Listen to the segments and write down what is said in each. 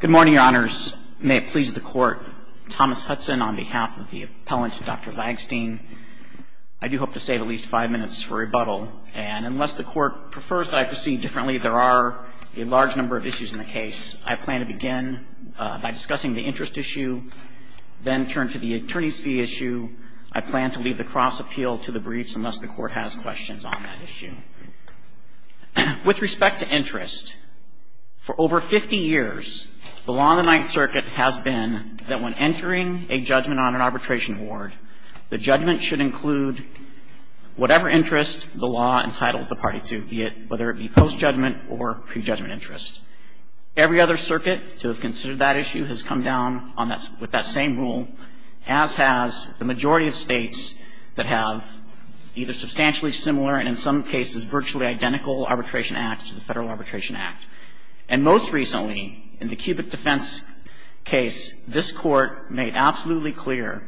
Good morning, Your Honors. May it please the Court, Thomas Hudson on behalf of the appellant Dr. Lagstein. I do hope to save at least five minutes for rebuttal, and unless the Court prefers that I proceed differently, there are a large number of issues in the case. I plan to begin by discussing the interest issue, then turn to the attorney's fee issue. I plan to leave the cross appeal to the briefs unless the Court has questions on that issue. With respect to interest, for over 50 years, the law in the Ninth Circuit has been that when entering a judgment on an arbitration award, the judgment should include whatever interest the law entitles the party to, whether it be post-judgment or pre-judgment interest. Every other circuit to have considered that issue has come down with that same rule, as has the majority of states that have either substantially similar and in some cases virtually identical arbitration acts to the Federal Arbitration Act. And most recently, in the cubic defense case, this Court made absolutely clear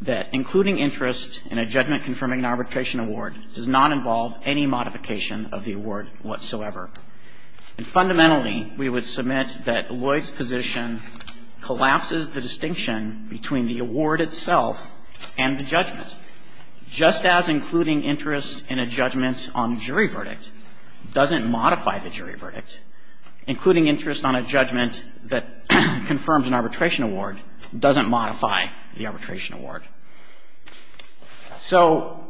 that including interest in a judgment confirming an arbitration award does not involve any modification of the award whatsoever. And fundamentally, we would submit that the difference between the award itself and the judgment, just as including interest in a judgment on jury verdict doesn't modify the jury verdict, including interest on a judgment that confirms an arbitration award doesn't modify the arbitration award. So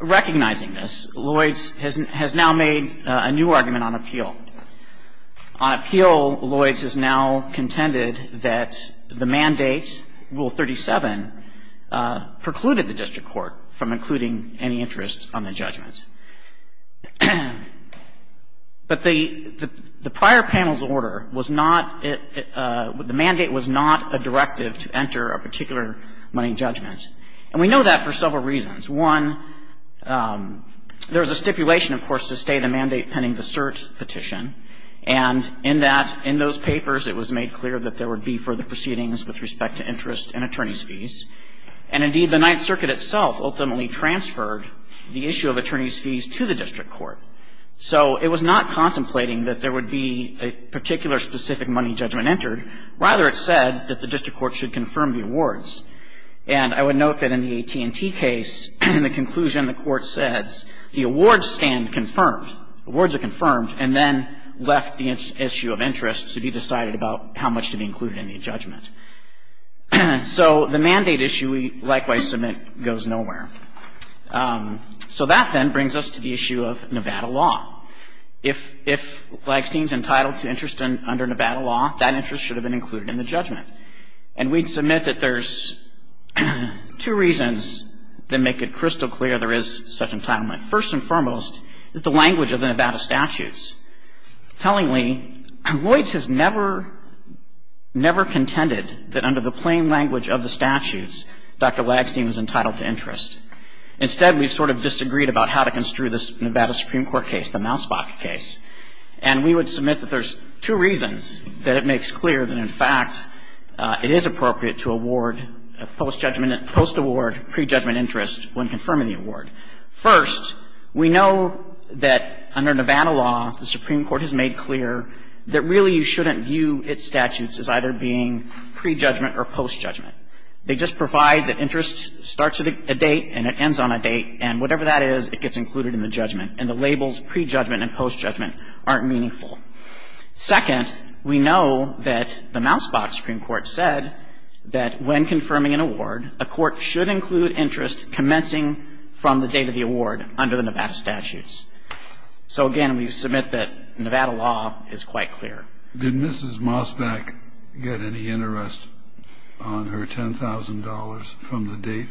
recognizing this, Lloyds has now made a new argument on appeal. On appeal, Lloyds has now contended that the mandate, Rule 37, precluded the district court from including any interest on the judgment. But the prior panel's order was not the mandate was not a directive to enter a particular money judgment. And we know that for several reasons. One, there was a stipulation, of course, to state a mandate pending the cert petition. And in that, in those papers, it was made clear that there would be further proceedings with respect to interest and attorneys' fees. And indeed, the Ninth Circuit itself ultimately transferred the issue of attorneys' fees to the district court. So it was not contemplating that there would be a particular specific money judgment entered. Rather, it said that the district court should confirm the awards. And I would note that in the AT&T case, in the conclusion, the court says the awards stand confirmed. The awards are confirmed, and then left the issue of interest to be decided about how much to be included in the judgment. So the mandate issue, we likewise submit, goes nowhere. So that, then, brings us to the issue of Nevada law. If Lagstein's entitled to interest under Nevada law, that interest should have been There are two reasons that make it crystal clear there is such entitlement. First and foremost is the language of the Nevada statutes. Tellingly, Lloyds has never, never contended that under the plain language of the statutes, Dr. Lagstein was entitled to interest. Instead, we've sort of disagreed about how to construe this Nevada Supreme Court case, the Mausbach case. And we would submit that there's two reasons that it makes clear that, in fact, it is appropriate to award post-judgment and post-award pre-judgment interest when confirming the award. First, we know that under Nevada law, the Supreme Court has made clear that really you shouldn't view its statutes as either being pre-judgment or post-judgment. They just provide that interest starts at a date and it ends on a date, and whatever that is, it gets Second, we know that the Mausbach Supreme Court said that when confirming an award, a court should include interest commencing from the date of the award under the Nevada statutes. So again, we submit that Nevada law is quite clear. Kennedy. Did Mrs. Mausbach get any interest on her $10,000 from the date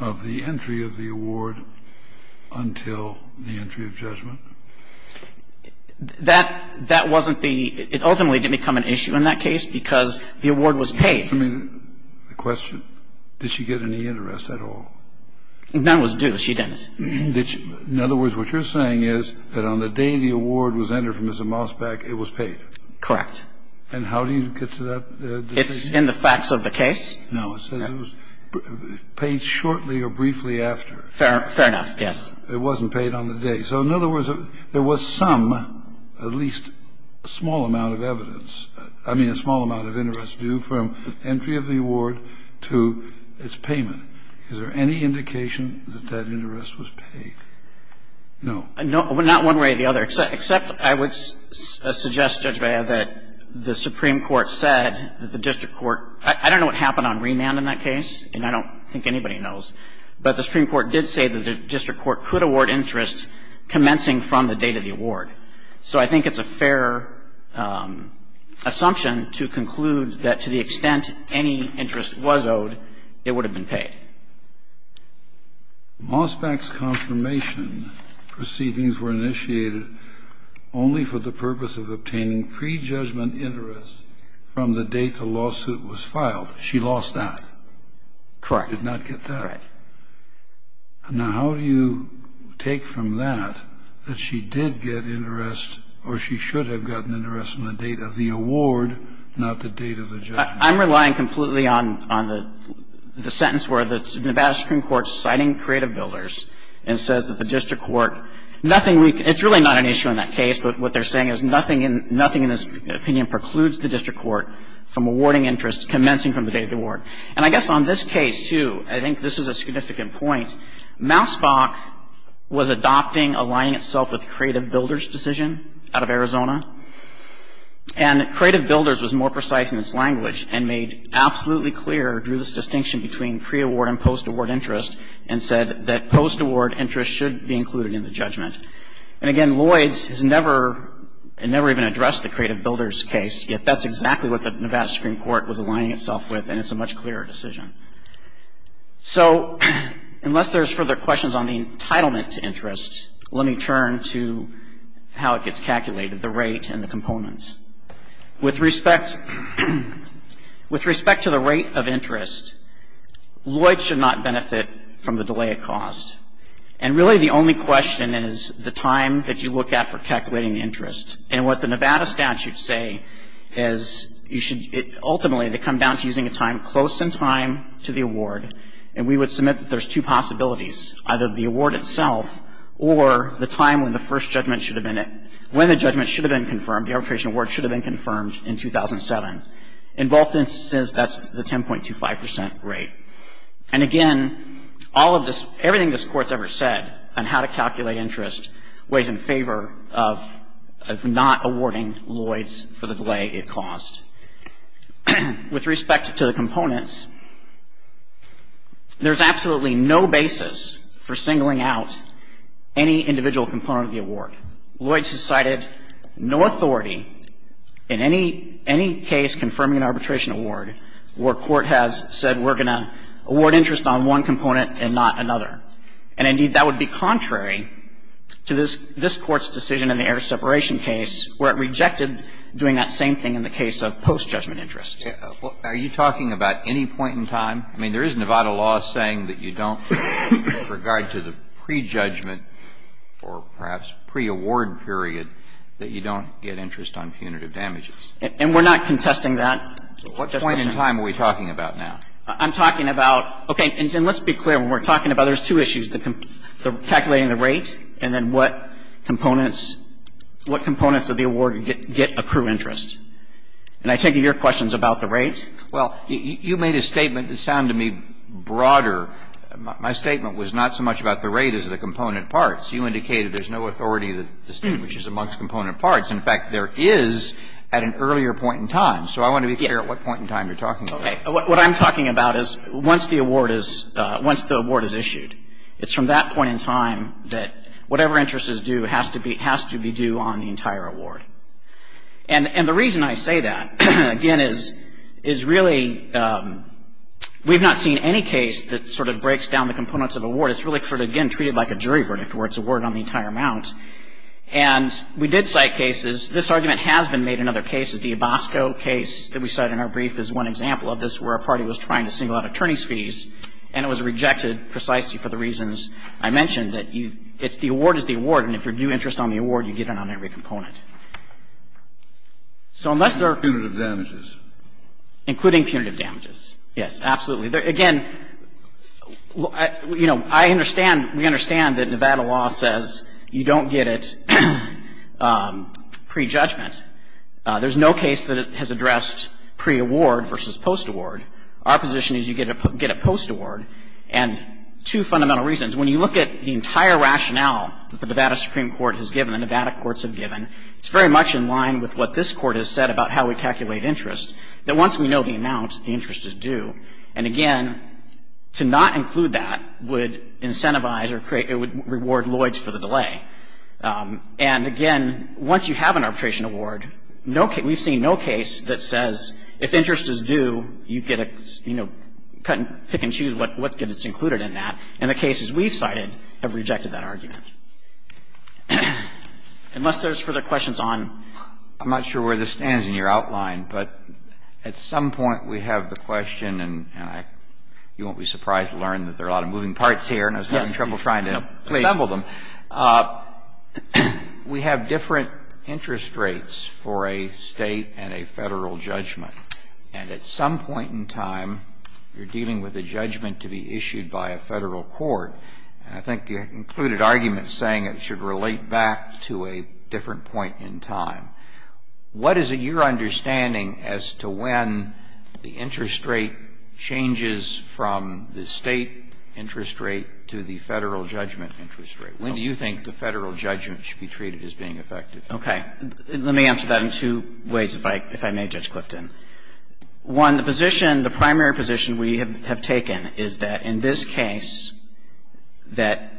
of the entry of the award until the entry of judgment? That wasn't the – it ultimately didn't become an issue in that case because the award was paid. I mean, the question, did she get any interest at all? None was due. She didn't. In other words, what you're saying is that on the day the award was entered from Mrs. Mausbach, it was paid. Correct. And how do you get to that decision? It's in the facts of the case. No. It says it was paid shortly or briefly after. Fair enough, yes. It wasn't paid on the day. So in other words, there was some, at least a small amount of evidence, I mean, a small amount of interest due from entry of the award to its payment. Is there any indication that that interest was paid? No. Not one way or the other, except I would suggest, Judge Beyer, that the Supreme Court said that the district court – I don't know what happened on Remand in that So I think it's a fair assumption to conclude that to the extent any interest was owed, it would have been paid. Mausbach's confirmation proceedings were initiated only for the purpose of obtaining prejudgment interest from the date the lawsuit was filed. She lost that. Correct. Did not get that. Correct. Now, how do you take from that that she did get interest or she should have gotten interest on the date of the award, not the date of the judgment? I'm relying completely on the sentence where the Nevada Supreme Court is citing creative builders and says that the district court – nothing we can – it's really not an issue in that case, but what they're saying is nothing in this opinion precludes the district court from awarding interest commencing from the date of the judgment. And I guess on this case, too, I think this is a significant point. Mausbach was adopting aligning itself with creative builders' decision out of Arizona, and creative builders was more precise in its language and made absolutely clear, drew this distinction between pre-award and post-award interest, and said that post-award interest should be included in the judgment. And again, Lloyds has never – never even addressed the creative builders' case, yet that's exactly what the Nevada Supreme Court was aligning itself with, and it's a much clearer decision. So unless there's further questions on the entitlement to interest, let me turn to how it gets calculated, the rate and the components. With respect – with respect to the rate of interest, Lloyds should not benefit from the delay it caused. And really the only question is the time that you look at for calculating the interest. And what the Nevada statutes say is you should – ultimately they come down to using a time close in time to the award, and we would submit that there's two possibilities, either the award itself or the time when the first judgment should have been – when the judgment should have been confirmed, the arbitration award should have been confirmed in 2007. In both instances, that's the 10.25 percent rate. And again, all of this – everything this Court's ever said on how to calculate interest weighs in favor of not awarding Lloyds for the delay it caused. With respect to the components, there's absolutely no basis for singling out any individual component of the award. Lloyds has cited no authority in any case confirming an arbitration award where court has said we're going to award interest on one component and not another. And indeed, that would be contrary to this – this Court's decision in the error separation case where it rejected doing that same thing in the case of post-judgment interest. Are you talking about any point in time? I mean, there is Nevada law saying that you don't, with regard to the prejudgment or perhaps pre-award period, that you don't get interest on punitive damages. And we're not contesting that. What point in time are we talking about now? I'm talking about – okay. And let's be clear. When we're talking about it, there's two issues, calculating the rate and then what components – what components of the award get accrued interest. And I take it your question is about the rate? Well, you made a statement that sounded to me broader. My statement was not so much about the rate as the component parts. You indicated there's no authority that distinguishes amongst component parts. In fact, there is at an earlier point in time. So I want to be clear at what point in time you're talking about. Okay. What I'm talking about is once the award is issued, it's from that point in time that whatever interest is due has to be due on the entire award. And the reason I say that, again, is really we've not seen any case that sort of breaks down the components of award. It's really sort of, again, treated like a jury verdict where it's awarded on the entire amount. And we did cite cases. This argument has been made in other cases. The Abasco case that we cite in our brief is one example of this where a party was trying to single out attorney's fees, and it was rejected precisely for the reasons I mentioned, that you – it's the award is the award, and if you're due interest on the award, you get it on every component. So unless there are – Punitive damages. Including punitive damages. Yes, absolutely. Again, you know, I understand, we understand that Nevada law says you don't get it pre-judgment. There's no case that it has addressed pre-award versus post-award. Our position is you get a post-award, and two fundamental reasons. When you look at the entire rationale that the Nevada Supreme Court has given, the Nevada courts have given, it's very much in line with what this Court has said about how we calculate interest, that once we know the amount, the interest is due. And again, to not include that would incentivize or create – it would reward Lloyds for the delay. And again, once you have an arbitration award, no case – we've seen no case that says if interest is due, you get a – you know, pick and choose what gets included in that. And the cases we've cited have rejected that argument. Unless there's further questions on – I'm not sure where this stands in your outline, but at some point we have the question, and you won't be surprised to learn that there are a lot of moving parts here, and I was having trouble trying to assemble them. We have different interest rates for a State and a Federal judgment. And at some point in time, you're dealing with a judgment to be issued by a Federal court, and I think you included arguments saying it should relate back to a different point in time. What is it you're understanding as to when the interest rate changes from the State interest rate to the Federal judgment interest rate? When do you think the Federal judgment should be treated as being effective? Okay. Let me answer that in two ways, if I may, Judge Clifton. One, the position, the primary position we have taken is that in this case, that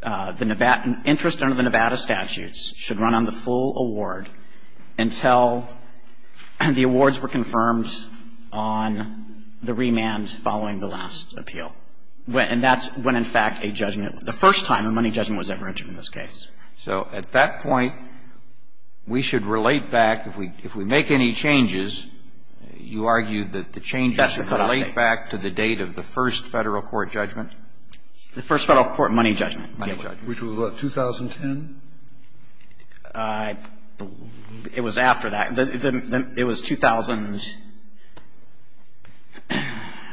the interest under the Nevada statutes should run on the full award until the awards were confirmed on the remand following the last appeal. And that's when, in fact, a judgment, the first time a money judgment was ever entered in this case. So at that point, we should relate back, if we make any changes, you argue that the changes should relate back to the date of the first Federal court judgment? The first Federal court money judgment. Money judgment. Which was what, 2010? It was after that. It was 2000. I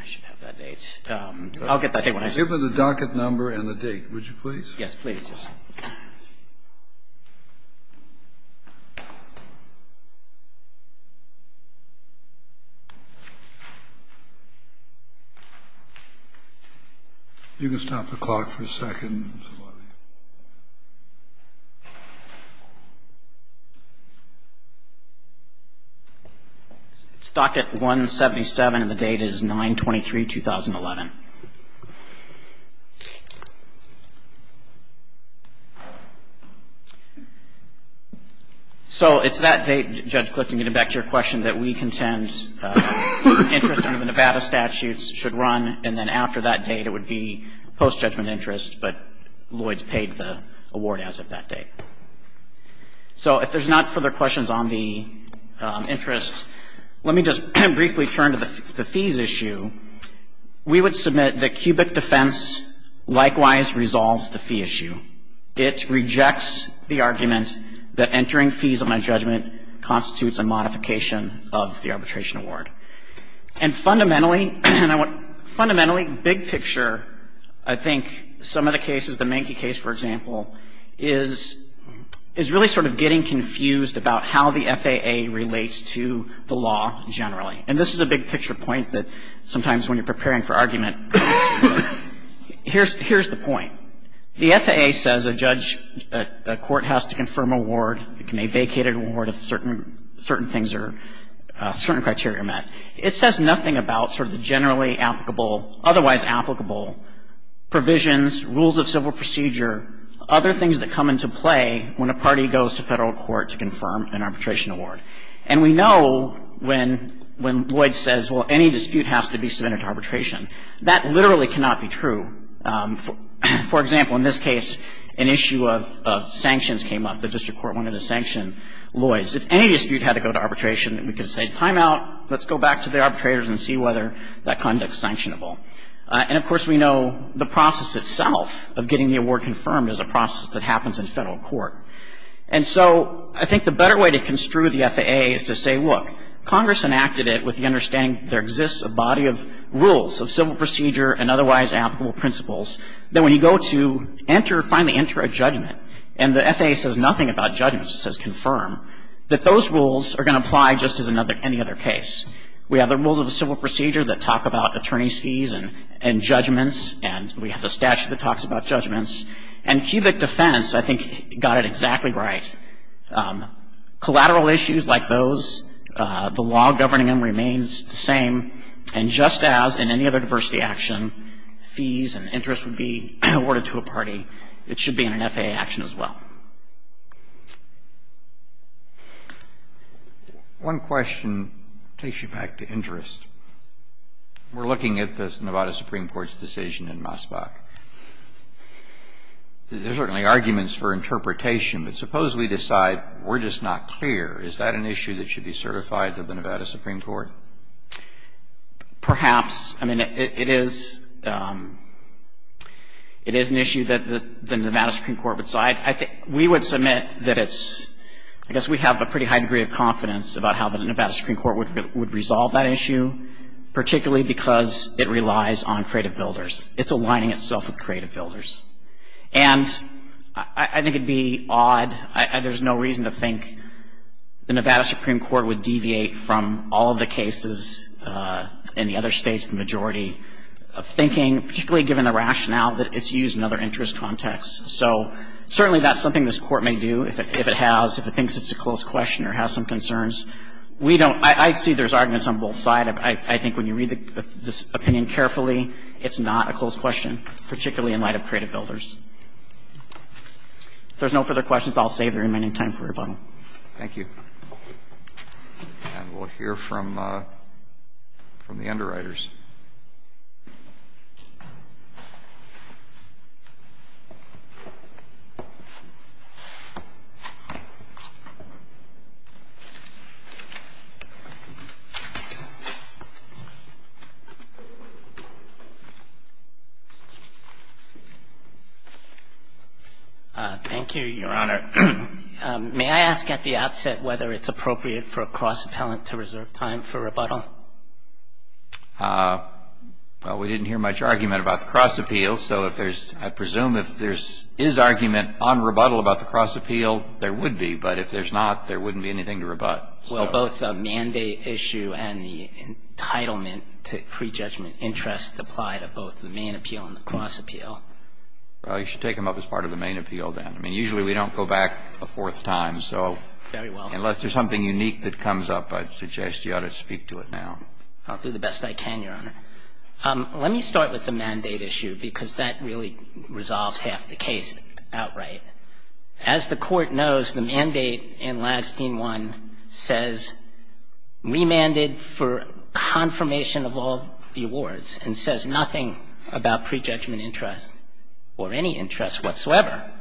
should have that date. I'll get that. Give me the docket number and the date, would you please? Yes, please. You can stop the clock for a second, Mr. Levy. It's docket 177, and the date is 9-23-2011. So it's that date, Judge Clifton, getting back to your question, that we contend interest under the Nevada statutes should run, and then after that date, it would be post-judgment interest, but Lloyd's paid the award as of that date. So if there's not further questions on the interest, let me just briefly turn to the fees issue. We would submit that cubic defense likewise resolves the fee issue. It rejects the argument that entering fees on a judgment constitutes a modification of the arbitration award. And fundamentally, big picture, I think, some of the cases, the Mankey case, for example, is really sort of getting confused about how the FAA relates to the law generally. And this is a big picture point that sometimes when you're preparing for argument, here's the point. The FAA says a judge, a court has to confirm award, a vacated award if certain things are, certain criteria are met. It says nothing about sort of the generally applicable, otherwise applicable provisions, rules of civil procedure, other things that come into play when a party goes to federal court to confirm an arbitration award. And we know when Lloyd says, well, any dispute has to be submitted to arbitration, that literally cannot be true. For example, in this case, an issue of sanctions came up. The district court wanted to sanction Lloyd's. If any dispute had to go to arbitration, we could say timeout, let's go back to the arbitrators and see whether that conduct is sanctionable. And, of course, we know the process itself of getting the award confirmed is a process that happens in federal court. And so I think the better way to construe the FAA is to say, look, Congress enacted it with the understanding that there exists a body of rules of civil procedure and otherwise applicable principles that when you go to enter, finally enter a judgment, and the FAA says nothing about judgments, it says confirm, that those rules are going to apply just as any other case. We have the rules of civil procedure that talk about attorney's fees and judgments and we have the statute that talks about judgments. And cubic defense, I think, got it exactly right. Collateral issues like those, the law governing them remains the same. And just as in any other diversity action, fees and interest would be awarded to a party, it should be in an FAA action as well. One question takes you back to interest. We're looking at this Nevada Supreme Court's decision in Mossbach. There are certainly arguments for interpretation, but suppose we decide we're just not clear. Is that an issue that should be certified to the Nevada Supreme Court? Perhaps. I mean, it is an issue that the Nevada Supreme Court would side. I think we would submit that it's – I guess we have a pretty high degree of confidence about how the Nevada Supreme Court would resolve that issue, particularly because it relies on creative builders. It's aligning itself with creative builders. And I think it would be odd. There's no reason to think the Nevada Supreme Court would deviate from all of the cases in the other States, the majority, thinking, particularly given the rationale, that it's used in other interest contexts. So certainly that's something this Court may do if it has, if it thinks it's a close question or has some concerns. We don't – I see there's arguments on both sides. I think when you read this opinion carefully, it's not a close question, particularly in light of creative builders. If there's no further questions, I'll save the remaining time for rebuttal. Thank you. And we'll hear from the underwriters. Thank you, Your Honor. May I ask at the outset whether it's appropriate for a cross-appellant to reserve time for rebuttal? I think that's a good question. Well, we didn't hear much argument about the cross-appeal. So if there's – I presume if there is argument on rebuttal about the cross-appeal, there would be. But if there's not, there wouldn't be anything to rebut. Well, both the mandate issue and the entitlement to pre-judgment interest apply to both the main appeal and the cross-appeal. Well, you should take them up as part of the main appeal then. I mean, usually we don't go back a fourth time. So unless there's something unique that comes up, I'd suggest you ought to speak to it now. I'll do the best I can, Your Honor. Let me start with the mandate issue because that really resolves half the case outright. As the Court knows, the mandate in Ladstein 1 says remanded for confirmation of all the awards and says nothing about pre-judgment interest or any interest whatsoever.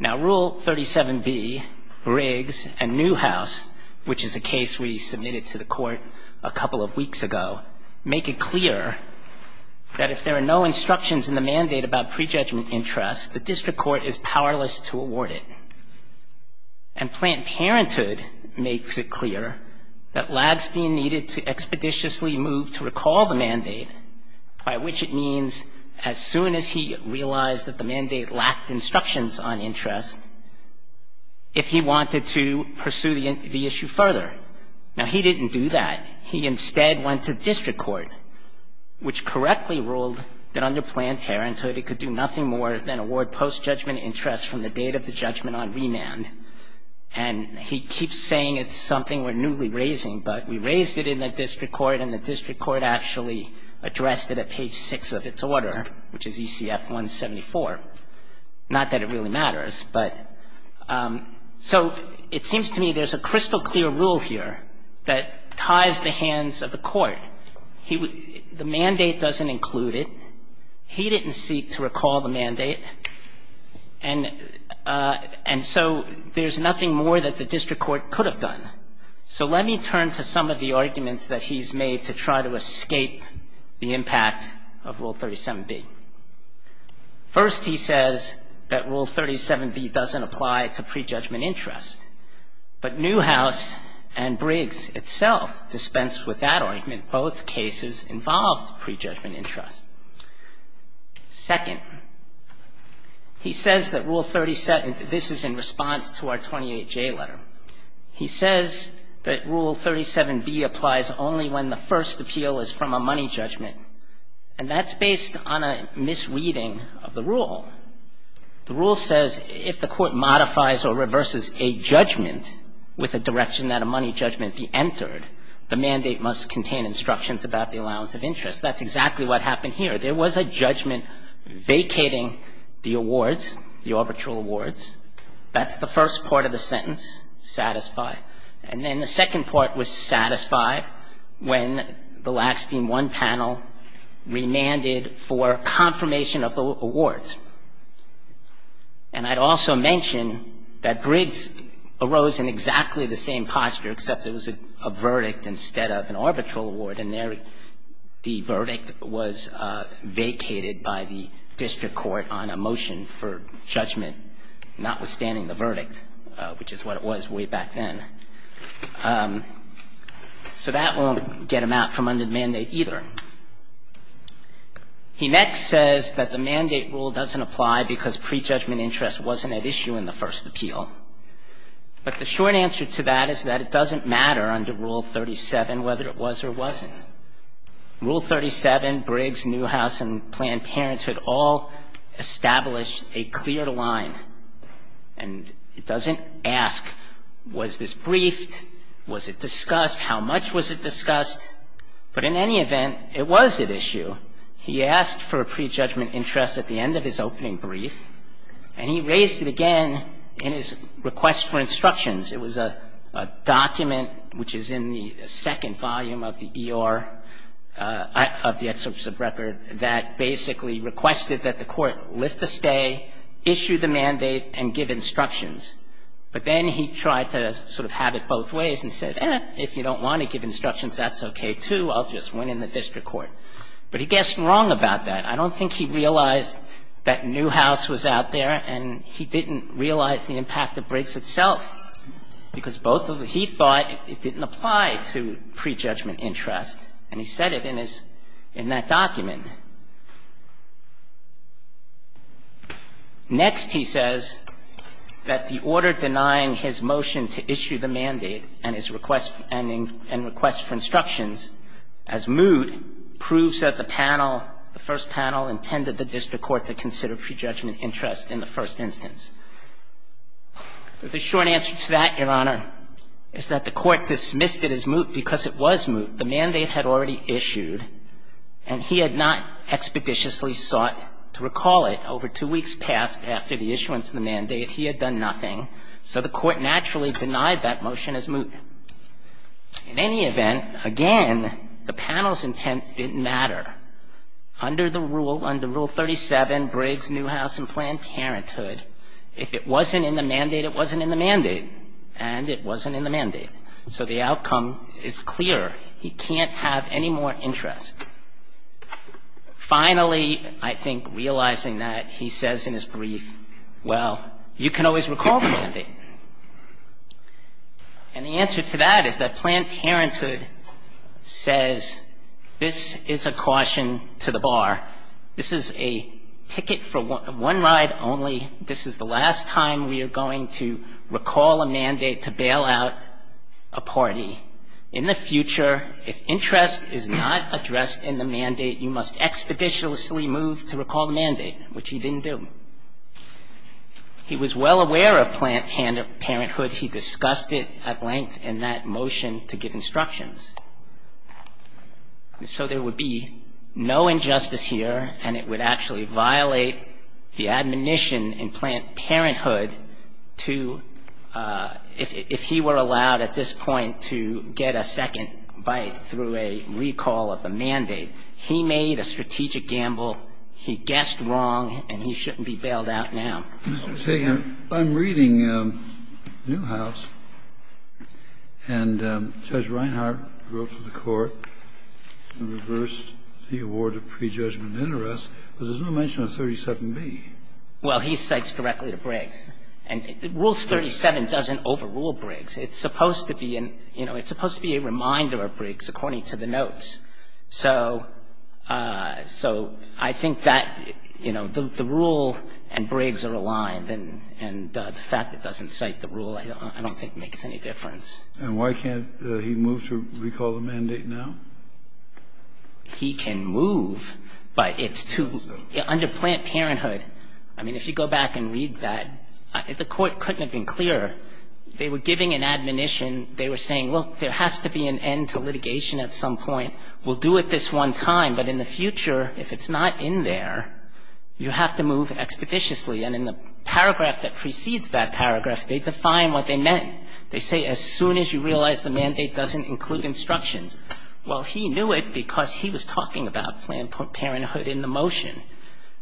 Now, Rule 37B, Riggs and Newhouse, which is a case we submitted to the Court a couple of weeks ago, make it clear that if there are no instructions in the mandate about pre-judgment interest, the district court is powerless to award it. And Planned Parenthood makes it clear that Ladstein needed to expeditiously move to recall the mandate, by which it means as soon as he realized that the mandate lacked instructions on interest, if he wanted to pursue the issue further. Now, he didn't do that. He instead went to district court, which correctly ruled that under Planned Parenthood, it could do nothing more than award post-judgment interest from the date of the judgment on remand. And he keeps saying it's something we're newly raising, but we raised it in the district court and the district court actually addressed it at page 6 of its order, which is ECF 174. Not that it really matters, but so it seems to me there's a crystal clear rule here that ties the hands of the court. He would the mandate doesn't include it. He didn't seek to recall the mandate. And so there's nothing more that the district court could have done. So let me turn to some of the arguments that he's made to try to escape the impact of Rule 37B. First, he says that Rule 37B doesn't apply to prejudgment interest. But Newhouse and Briggs itself dispensed with that argument. Both cases involved prejudgment interest. Second, he says that Rule 37, this is in response to our 28J letter. He says that Rule 37B applies only when the first appeal is from a money judgment. And that's based on a misreading of the rule. The rule says if the court modifies or reverses a judgment with a direction that a money judgment be entered, the mandate must contain instructions about the allowance of interest. That's exactly what happened here. There was a judgment vacating the awards, the arbitral awards. That's the first part of the sentence, satisfied. And then the second part was satisfied when the Lackstein 1 panel remanded for confirmation of the awards. And I'd also mention that Briggs arose in exactly the same posture, except there was a verdict instead of an arbitral award. And there the verdict was vacated by the district court on a motion for judgment, notwithstanding the verdict, which is what it was way back then. So that won't get him out from under the mandate either. He next says that the mandate rule doesn't apply because prejudgment interest wasn't at issue in the first appeal. But the short answer to that is that it doesn't matter under Rule 37 whether it was or wasn't. Rule 37, Briggs, Newhouse, and Planned Parenthood all establish a clear line. And it doesn't ask was this briefed, was it discussed, how much was it discussed. But in any event, it was at issue. He asked for a prejudgment interest at the end of his opening brief, and he raised it again in his request for instructions. It was a document, which is in the second volume of the ER, of the excerpts of record, that basically requested that the court lift the stay, issue the mandate, and give instructions. But then he tried to sort of have it both ways and said, if you don't want to give instructions, that's okay too, I'll just win in the district court. But he guessed wrong about that. I don't think he realized that Newhouse was out there, and he didn't realize the impact of Briggs itself because both of them, he thought it didn't apply to prejudgment interest. And he said it in his, in that document. Next, he says that the order denying his motion to issue the mandate and his request for instructions as moot proves that the panel, the first panel, intended the district court to consider prejudgment interest in the first instance. The short answer to that, Your Honor, is that the court dismissed it as moot because it was moot. The mandate had already issued, and he had not expeditiously sought to recall it. Over two weeks passed after the issuance of the mandate, he had done nothing, so the court naturally denied that motion as moot. In any event, again, the panel's intent didn't matter. Under the rule, under Rule 37, Briggs, Newhouse, and Planned Parenthood, if it wasn't in the mandate, it wasn't in the mandate, and it wasn't in the mandate. So the outcome is clear. He can't have any more interest. Finally, I think realizing that, he says in his brief, well, you can always recall the mandate. And the answer to that is that Planned Parenthood says this is a caution to the bar. This is a ticket for one ride only. This is the last time we are going to recall a mandate to bail out a party. In the future, if interest is not addressed in the mandate, you must expeditiously move to recall the mandate, which he didn't do. He was well aware of Planned Parenthood. He discussed it at length in that motion to give instructions. So there would be no injustice here, and it would actually violate the admonition in Planned Parenthood to, if he were allowed at this point to get a second bite through a recall of the mandate. He made a strategic gamble. He guessed wrong, and he shouldn't be bailed out now. Kennedy. I'm reading Newhouse. And Judge Reinhart wrote to the Court and reversed the award of prejudgment interest. But there's no mention of 37B. Well, he cites directly to Briggs. And Rules 37 doesn't overrule Briggs. It's supposed to be a reminder of Briggs according to the notes. So I think that, you know, the rule and Briggs are aligned, and the fact it doesn't cite the rule I don't think makes any difference. And why can't he move to recall the mandate now? He can move, but it's too under Planned Parenthood. I mean, if you go back and read that, the Court couldn't have been clearer. They were giving an admonition. They were saying, look, there has to be an end to litigation at some point. We'll do it this one time. But in the future, if it's not in there, you have to move expeditiously. And in the paragraph that precedes that paragraph, they define what they meant. They say, as soon as you realize the mandate doesn't include instructions. Well, he knew it because he was talking about Planned Parenthood in the motion.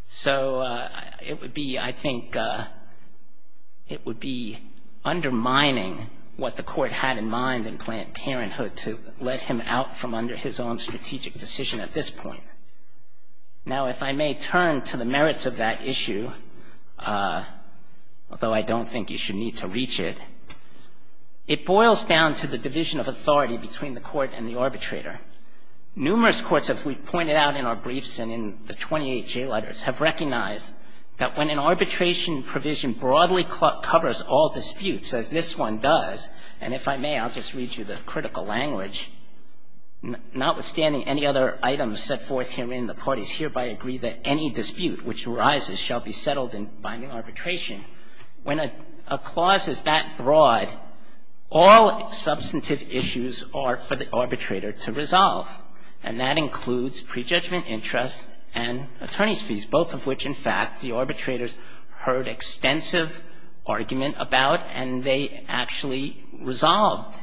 So it would be, I think, it would be undermining what the Court had in mind in Planned Parenthood to let him out from under his own strategic decision at this point. Now, if I may turn to the merits of that issue, although I don't think you should need to reach it, it boils down to the division of authority between the Court and the arbitrator. Numerous courts, as we pointed out in our briefs and in the 28 J letters, have recognized that when an arbitration provision broadly covers all disputes, as this one does, and if I may, I'll just read you the critical language, notwithstanding any other items set forth herein, the parties hereby agree that any dispute which arises shall be settled by new arbitration. When a clause is that broad, all substantive issues are for the arbitrator to resolve, and that includes prejudgment interest and attorneys' fees, both of which, in fact, the arbitrators heard extensive argument about and they actually resolved.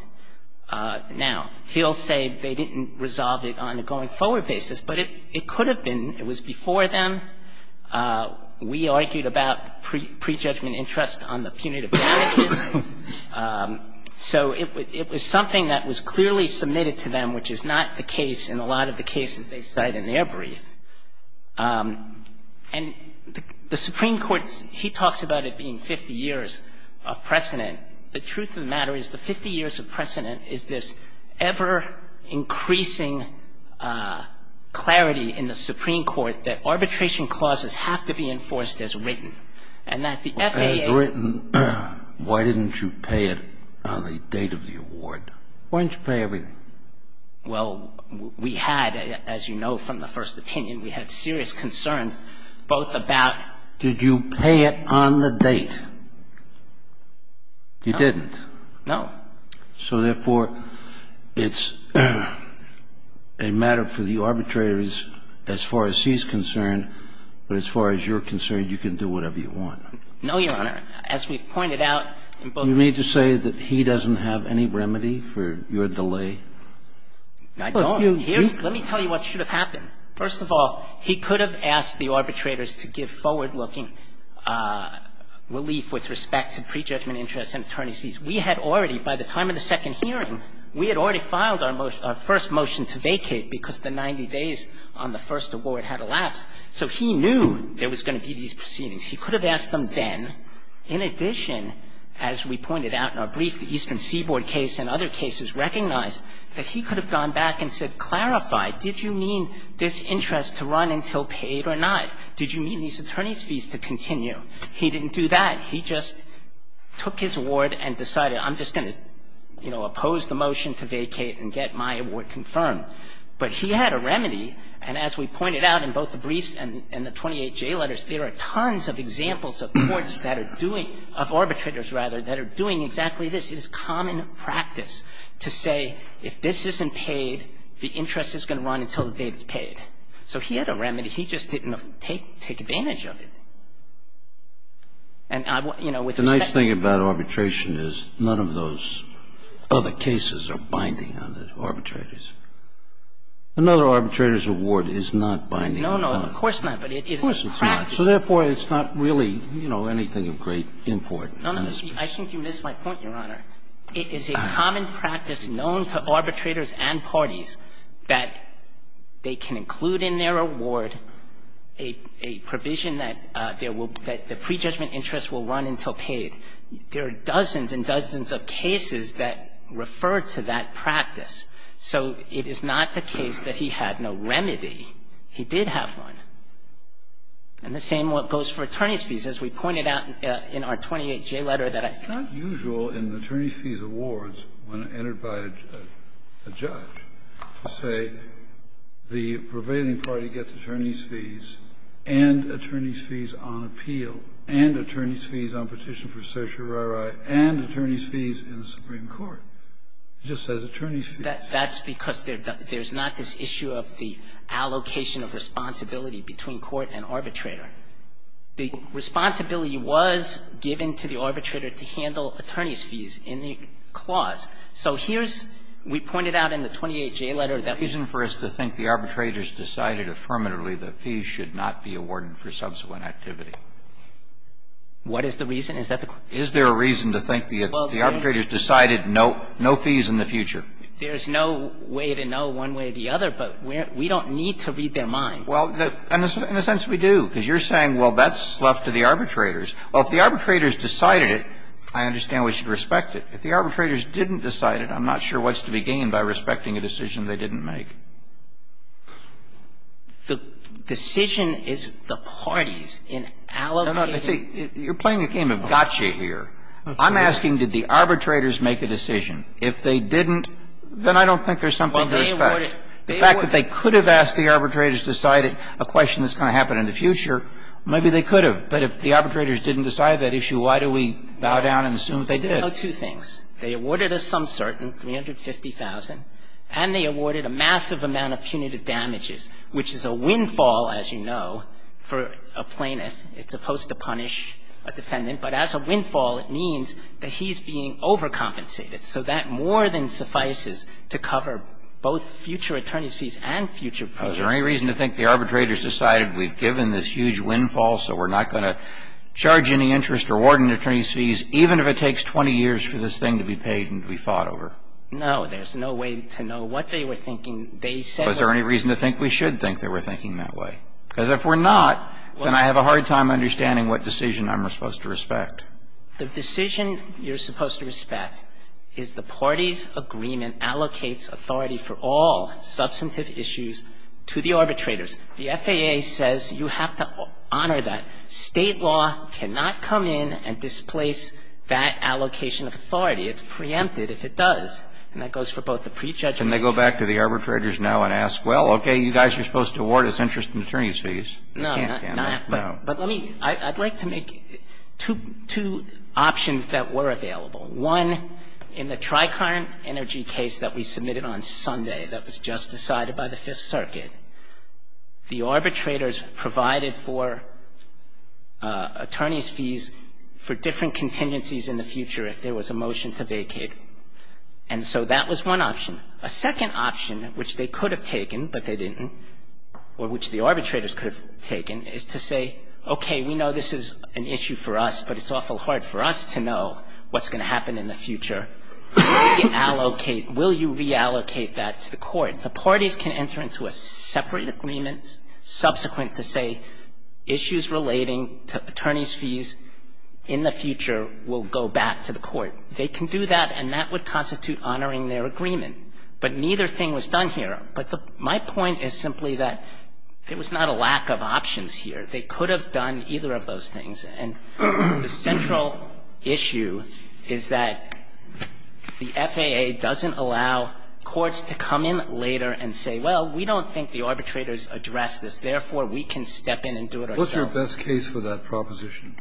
Now, he'll say they didn't resolve it on a going-forward basis, but it could have been. It was before them. We argued about prejudgment interest on the punitive damages. So it was something that was clearly submitted to them, which is not the case in a lot of the cases they cite in their brief. And the Supreme Court, he talks about it being 50 years of precedent. The truth of the matter is the 50 years of precedent is this ever-increasing clarity in the Supreme Court that arbitration clauses have to be enforced as written, and that the FAA has written. Scalia. Why didn't you pay it on the date of the award? Why didn't you pay everything? Well, we had, as you know from the first opinion, we had serious concerns both about Did you pay it on the date? No. You didn't? No. So therefore, it's a matter for the arbitrators as far as he's concerned, but as far as you're concerned, you can do whatever you want. No, Your Honor. As we've pointed out in both cases. You mean to say that he doesn't have any remedy for your delay? I don't. Let me tell you what should have happened. First of all, he could have asked the arbitrators to give forward-looking relief with respect to prejudgment interest and attorney's fees. We had already, by the time of the second hearing, we had already filed our first motion to vacate because the 90 days on the first award had elapsed. So he knew there was going to be these proceedings. He could have asked them then. In addition, as we pointed out in our brief, the Eastern Seaboard case and other cases recognized that he could have gone back and said, clarify, did you mean this interest to run until paid or not? Did you mean these attorney's fees to continue? He didn't do that. He just took his award and decided I'm just going to, you know, oppose the motion to vacate and get my award confirmed. But he had a remedy. And as we pointed out in both the briefs and the 28J letters, there are tons of examples of courts that are doing, of arbitrators, rather, that are doing exactly this. It is common practice to say if this isn't paid, the interest is going to run until the date it's paid. So he had a remedy. He just didn't take advantage of it. The thing is, the best thing about arbitration is none of those other cases are binding on the arbitrators. Another arbitrator's award is not binding on them. Of course not, but it is a practice. So therefore, it's not really, you know, anything of great importance. I think you missed my point, Your Honor. It is a common practice known to arbitrators and parties that they can include in their award a provision that the prejudgment interest will run until paid. There are dozens and dozens of cases that refer to that practice. So it is not the case that he had no remedy. He did have one. And the same goes for attorney's fees. As we pointed out in our 28J letter that I saw. It's not usual in attorney's fees awards, when entered by a judge, to say the prevailing party gets attorney's fees and attorney's fees on appeal and attorney's fees on petition for certiorari and attorney's fees in the Supreme Court. It just says attorney's fees. That's because there's not this issue of the allocation of responsibility between court and arbitrator. The responsibility was given to the arbitrator to handle attorney's fees in the clause. So here's we pointed out in the 28J letter that we're not going to be able to do that Kennedy, is there a reason for us to think the arbitrators decided affirmatively that fees should not be awarded for subsequent activity? What is the reason? Is that the question? Is there a reason to think the arbitrators decided no fees in the future? There's no way to know one way or the other, but we don't need to read their mind. Well, in a sense, we do, because you're saying, well, that's left to the arbitrators. Well, if the arbitrators decided it, I understand we should respect it. If the arbitrators didn't decide it, I'm not sure what's to be gained by respecting a decision they didn't make. The decision is the party's in allocating. No, no, see, you're playing a game of gotcha here. I'm asking did the arbitrators make a decision. The fact that they could have asked the arbitrators to decide it, a question that's going to happen in the future, maybe they could have. But if the arbitrators didn't decide that issue, why do we bow down and assume that they did? There are two things. They awarded a sum certain, 350,000, and they awarded a massive amount of punitive damages, which is a windfall, as you know, for a plaintiff. It's supposed to punish a defendant, but as a windfall, it means that he's being overcompensated. So that more than suffices to cover both future attorneys' fees and future plaintiffs' fees. Is there any reason to think the arbitrators decided we've given this huge windfall, so we're not going to charge any interest or award any attorneys' fees, even if it takes 20 years for this thing to be paid and to be fought over? No. There's no way to know what they were thinking. They said we should. Is there any reason to think we should think they were thinking that way? Because if we're not, then I have a hard time understanding what decision I'm supposed to respect. The decision you're supposed to respect is the party's agreement allocates authority for all substantive issues to the arbitrators. The FAA says you have to honor that. State law cannot come in and displace that allocation of authority. It's preempted if it does. And that goes for both the prejudgment and the other. Can they go back to the arbitrators now and ask, well, okay, you guys are supposed to award us interest and attorneys' fees? No. But let me – I'd like to make two options that were available. One, in the Tri-Current Energy case that we submitted on Sunday that was just decided by the Fifth Circuit, the arbitrators provided for attorneys' fees for different contingencies in the future if there was a motion to vacate. And so that was one option. A second option, which they could have taken but they didn't, or which the arbitrators could have taken, is to say, okay, we know this is an issue for us, but it's awful hard for us to know what's going to happen in the future. Will you allocate – will you reallocate that to the court? The parties can enter into a separate agreement subsequent to say issues relating to attorneys' fees in the future will go back to the court. They can do that, and that would constitute honoring their agreement. But neither thing was done here. But my point is simply that there was not a lack of options here. They could have done either of those things. And the central issue is that the FAA doesn't allow courts to come in later and say, well, we don't think the arbitrators addressed this, therefore, we can step in and do it ourselves. What's your best case for that proposition?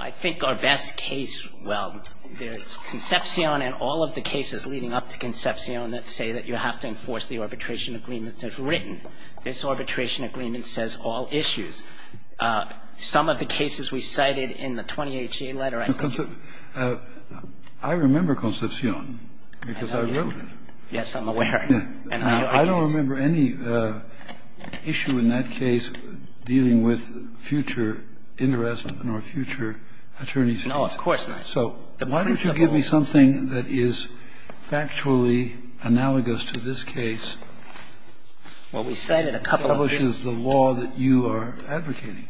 I think our best case, well, there's Concepcion and all of the cases leading up to Concepcion that say that you have to enforce the arbitration agreement that's written. This arbitration agreement says all issues. Some of the cases we cited in the 20-HCA letter, I think you can see. I remember Concepcion, because I wrote it. Yes, I'm aware. And I don't remember any issue in that case dealing with future interest in our future attorneys' cases. No, of course not. So why don't you give me something that is factually analogous to this case? Well, we cited a couple of this. It establishes the law that you are advocating.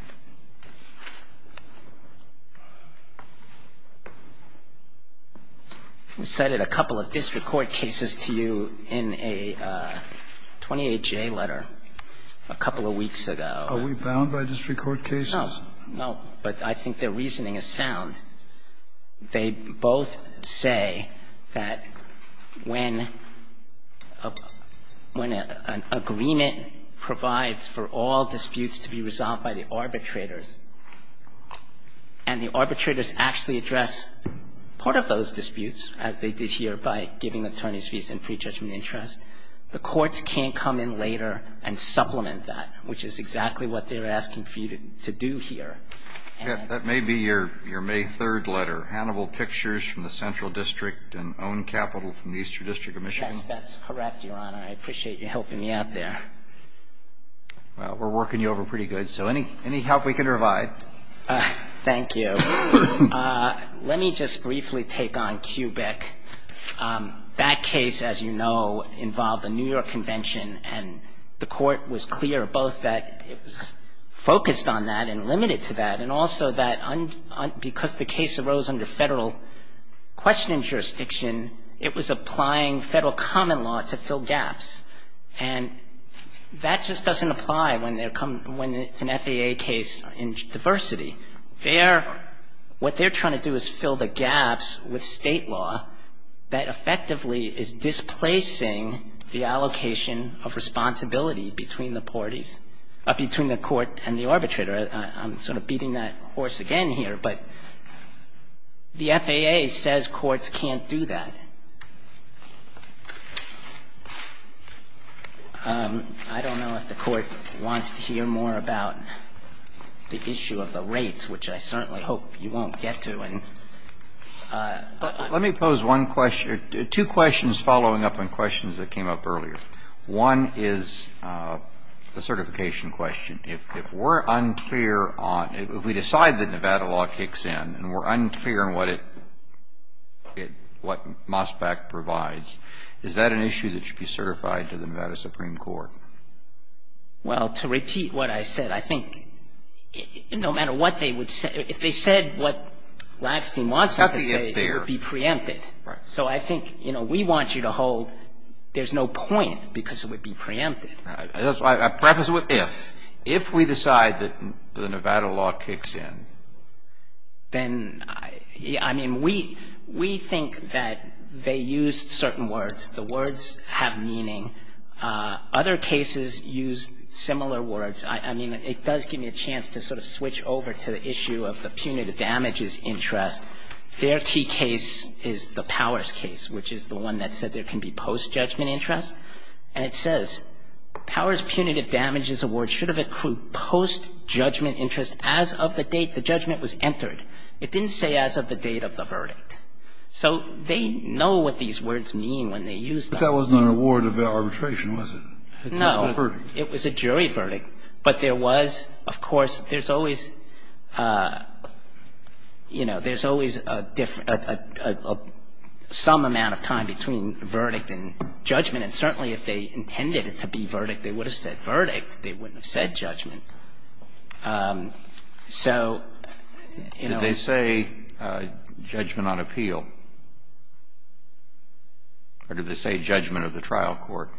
And I think the reason I'm saying this is because Concepcion and Concepcion did a 20-HCA letter a couple of weeks ago. Are we bound by district court cases? No, no, but I think their reasoning is sound. They both say that when an agreement provides for all disputes to be resolved by the arbitrators, and the arbitrators actually address part of those disputes, as they did here by giving attorneys' fees and pre-judgment interest, the courts can't come in later and supplement that, which is exactly what they're asking for you to do here. That may be your May 3rd letter, Hannibal Pictures from the Central District and Own Capital from the Eastern District of Michigan. Yes, that's correct, Your Honor. I appreciate you helping me out there. Well, we're working you over pretty good, so any help we can provide. Thank you. Let me just briefly take on Kubik. That case, as you know, involved the New York Convention, and the Court was clear both that it was focused on that and limited to that, and also that because the case arose under federal questioning jurisdiction, it was applying federal common law to fill gaps, and that just doesn't apply when it's an FAA case in diversity. What they're trying to do is fill the gaps with state law that effectively is displacing the allocation of responsibility between the parties, between the court and the arbitrator. I'm sort of beating that horse again here, but the FAA says courts can't do that. I don't know if the Court wants to hear more about the issue of the rates, which I certainly hope you won't get to. Let me pose one question or two questions following up on questions that came up earlier. One is a certification question. If we're unclear on, if we decide that Nevada law kicks in and we're unclear on what it, what MOSPAC provides, is that an issue that should be certified to the Nevada Supreme Court? Well, to repeat what I said, I think no matter what they would say, if they said what Lackstein wants them to say, it would be preempted. Right. So I think, you know, we want you to hold there's no point because it would be preempted. I preface it with if. If we decide that the Nevada law kicks in. Then, I mean, we think that they used certain words. The words have meaning. Other cases used similar words. I mean, it does give me a chance to sort of switch over to the issue of the punitive damages interest. Their key case is the Powers case, which is the one that said there can be post-judgment interest. And it says, Powers punitive damages award should have accrued post-judgment interest as of the date the judgment was entered. It didn't say as of the date of the verdict. So they know what these words mean when they use them. But that wasn't an award of arbitration, was it? No. It was a jury verdict. But there was, of course, there's always, you know, there's always a different, some amount of time between verdict and judgment. And certainly, if they intended it to be verdict, they would have said verdict. They wouldn't have said judgment. So, you know. Did they say judgment on appeal? Or did they say judgment of the trial court?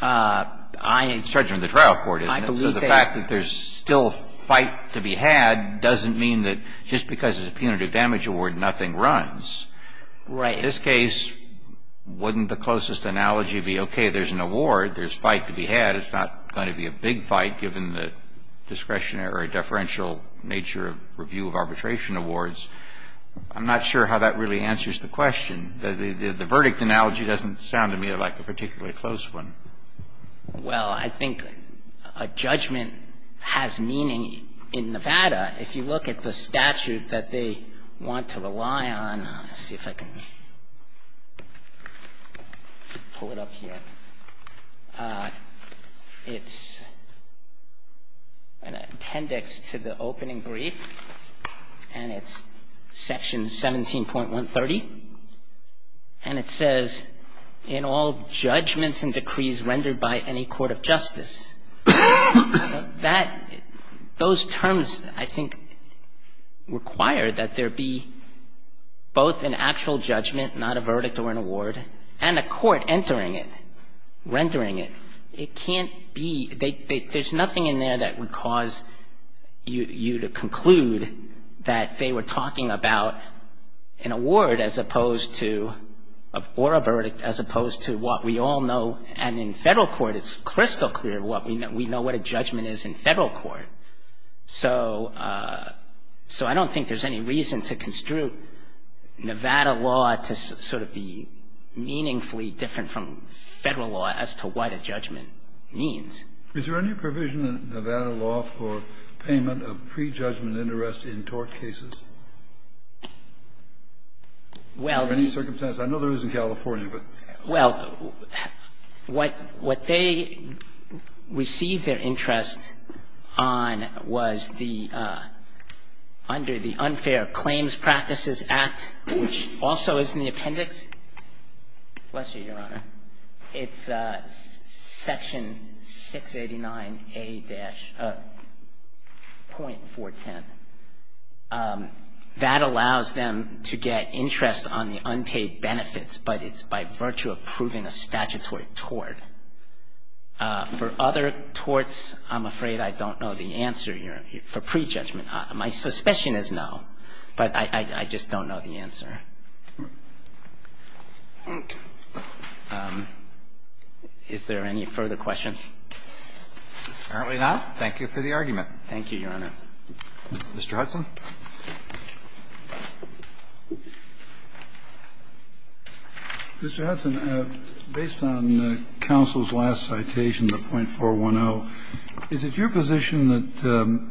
I. Judgment of the trial court. I believe they. So the fact that there's still a fight to be had doesn't mean that just because it's a punitive damage award, nothing runs. Right. In this case, wouldn't the closest analogy be, okay, there's an award. There's a fight to be had. It's not going to be a big fight given the discretionary deferential nature of review of arbitration awards. I'm not sure how that really answers the question. The verdict analogy doesn't sound to me like a particularly close one. Well, I think a judgment has meaning in Nevada. If you look at the statute that they want to rely on. Let's see if I can pull it up here. It's an appendix to the opening brief. And it's section 17.130. And it says, in all judgments and decrees rendered by any court of justice. Those terms, I think, require that there be both an actual judgment, not a verdict or an award, and a court entering it, rendering it. It can't be. There's nothing in there that would cause you to conclude that they were talking about an award as opposed to, or a verdict, as opposed to what we all know. And in Federal court, it's crystal clear what we know. We know what a judgment is in Federal court. So I don't think there's any reason to construe Nevada law to sort of be meaningfully different from Federal law as to what a judgment means. Is there any provision in Nevada law for payment of pre-judgment interest in tort cases? Well. Under any circumstance? I know there is in California, but. Well, what they received their interest on was the, under the Unfair Claims Practices Act, which also is in the appendix. Bless you, Your Honor. It's section 689A-.410. That allows them to get interest on the unpaid benefits, but it's by virtue of proving a statutory tort. For other torts, I'm afraid I don't know the answer, Your Honor, for pre-judgment. My suspicion is no, but I just don't know the answer. Okay. Is there any further questions? Apparently not. Thank you for the argument. Thank you, Your Honor. Mr. Hudson. Mr. Hudson, based on the counsel's last citation, the .410, is it your position that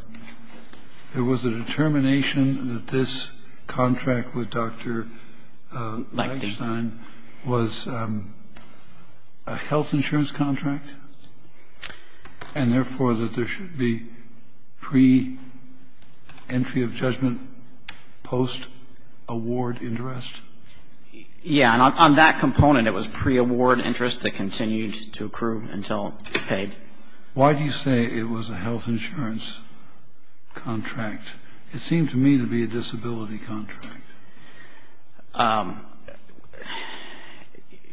there was a determination that this contract with Dr. Langstein was a health insurance contract? It was a health insurance contract. It was pre-entry, entry of judgment, post-award interest? Yes. And on that component, it was pre-award interest that continued to accrue until it was paid. Why do you say it was a health insurance contract? It seemed to me to be a disability contract.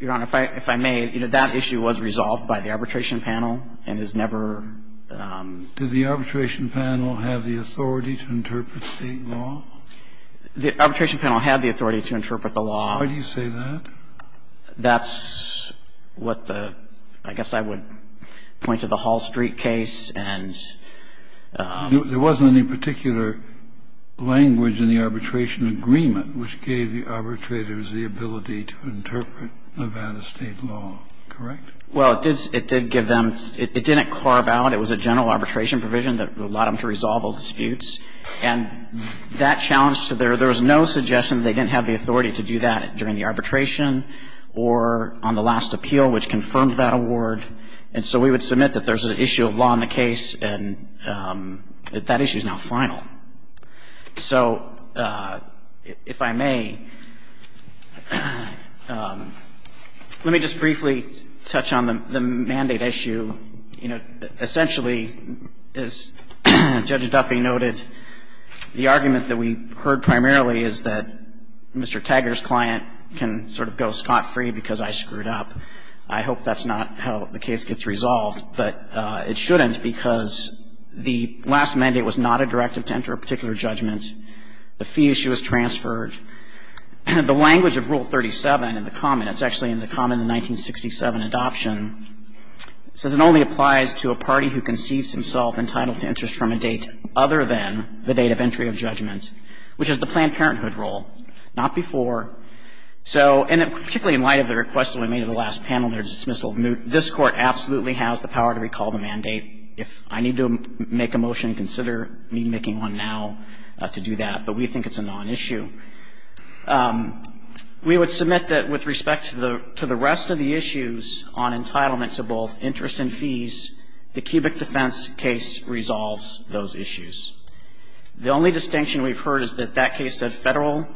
Your Honor, if I may, you know, that issue was resolved by the arbitration panel and is never ---- Did the arbitration panel have the authority to interpret State law? The arbitration panel had the authority to interpret the law. Why do you say that? That's what the ---- I guess I would point to the Hall Street case and ---- There wasn't any particular language in the arbitration agreement which gave the arbitrators the ability to interpret Nevada State law, correct? Well, it did give them ---- it didn't carve out. It was a general arbitration provision that allowed them to resolve all disputes. And that challenge to their ---- there was no suggestion that they didn't have the authority to do that during the arbitration or on the last appeal, which confirmed that award. And so we would submit that there's an issue of law in the case and that that issue is now final. So if I may, let me just briefly touch on the mandate issue. You know, essentially, as Judge Duffy noted, the argument that we heard primarily is that Mr. Taggart's client can sort of go scot-free because I screwed up. I hope that's not how the case gets resolved, but it shouldn't because the last mandate was not a directive to enter a particular judgment. The fee issue was transferred. The language of Rule 37 in the common, it's actually in the common in the 1967 adoption, says it only applies to a party who conceives himself entitled to interest from a date other than the date of entry of judgment, which is the Planned Parenthood rule. Not before. So, and particularly in light of the request that we made in the last panel there to dismissal, this Court absolutely has the power to recall the mandate. If I need to make a motion, consider me making one now to do that. But we think it's a non-issue. We would submit that with respect to the rest of the issues on entitlement to both interest and fees, the cubic defense case resolves those issues. The only distinction we've heard is that that case said Federal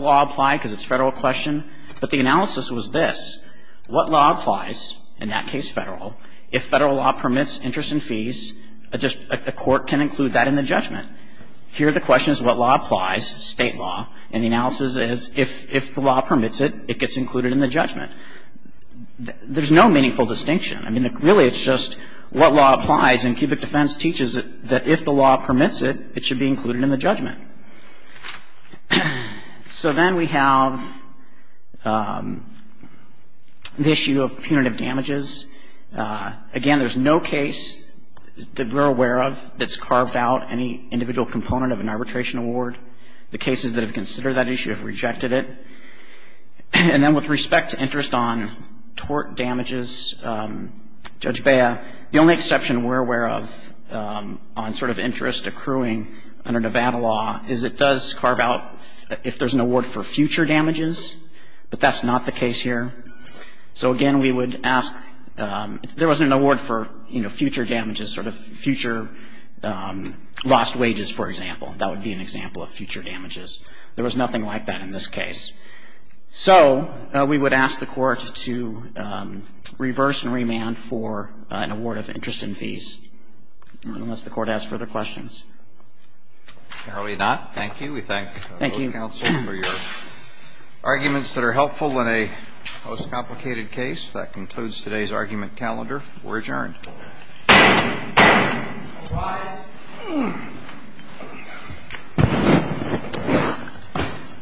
law applied because it's a Federal question, but the analysis was this. What law applies, in that case Federal, if Federal law permits interest and fees, a court can include that in the judgment. Here the question is what law applies, State law, and the analysis is if the law permits it, it gets included in the judgment. There's no meaningful distinction. I mean, really it's just what law applies and cubic defense teaches that if the law permits it, it should be included in the judgment. So then we have the issue of punitive damages. Again, there's no case that we're aware of that's carved out any individual component of an arbitration award. The cases that have considered that issue have rejected it. And then with respect to interest on tort damages, Judge Bea, the only exception that we're aware of on sort of interest accruing under Nevada law is it does carve out if there's an award for future damages, but that's not the case here. So again, we would ask, if there was an award for, you know, future damages, sort of future lost wages, for example, that would be an example of future damages. There was nothing like that in this case. So we would ask the Court to reverse and remand for an award of interest in fees unless the Court has further questions. Thank you. Thank you. Thank you, counsel, for your arguments that are helpful in a most complicated case. That concludes today's argument calendar. We're adjourned.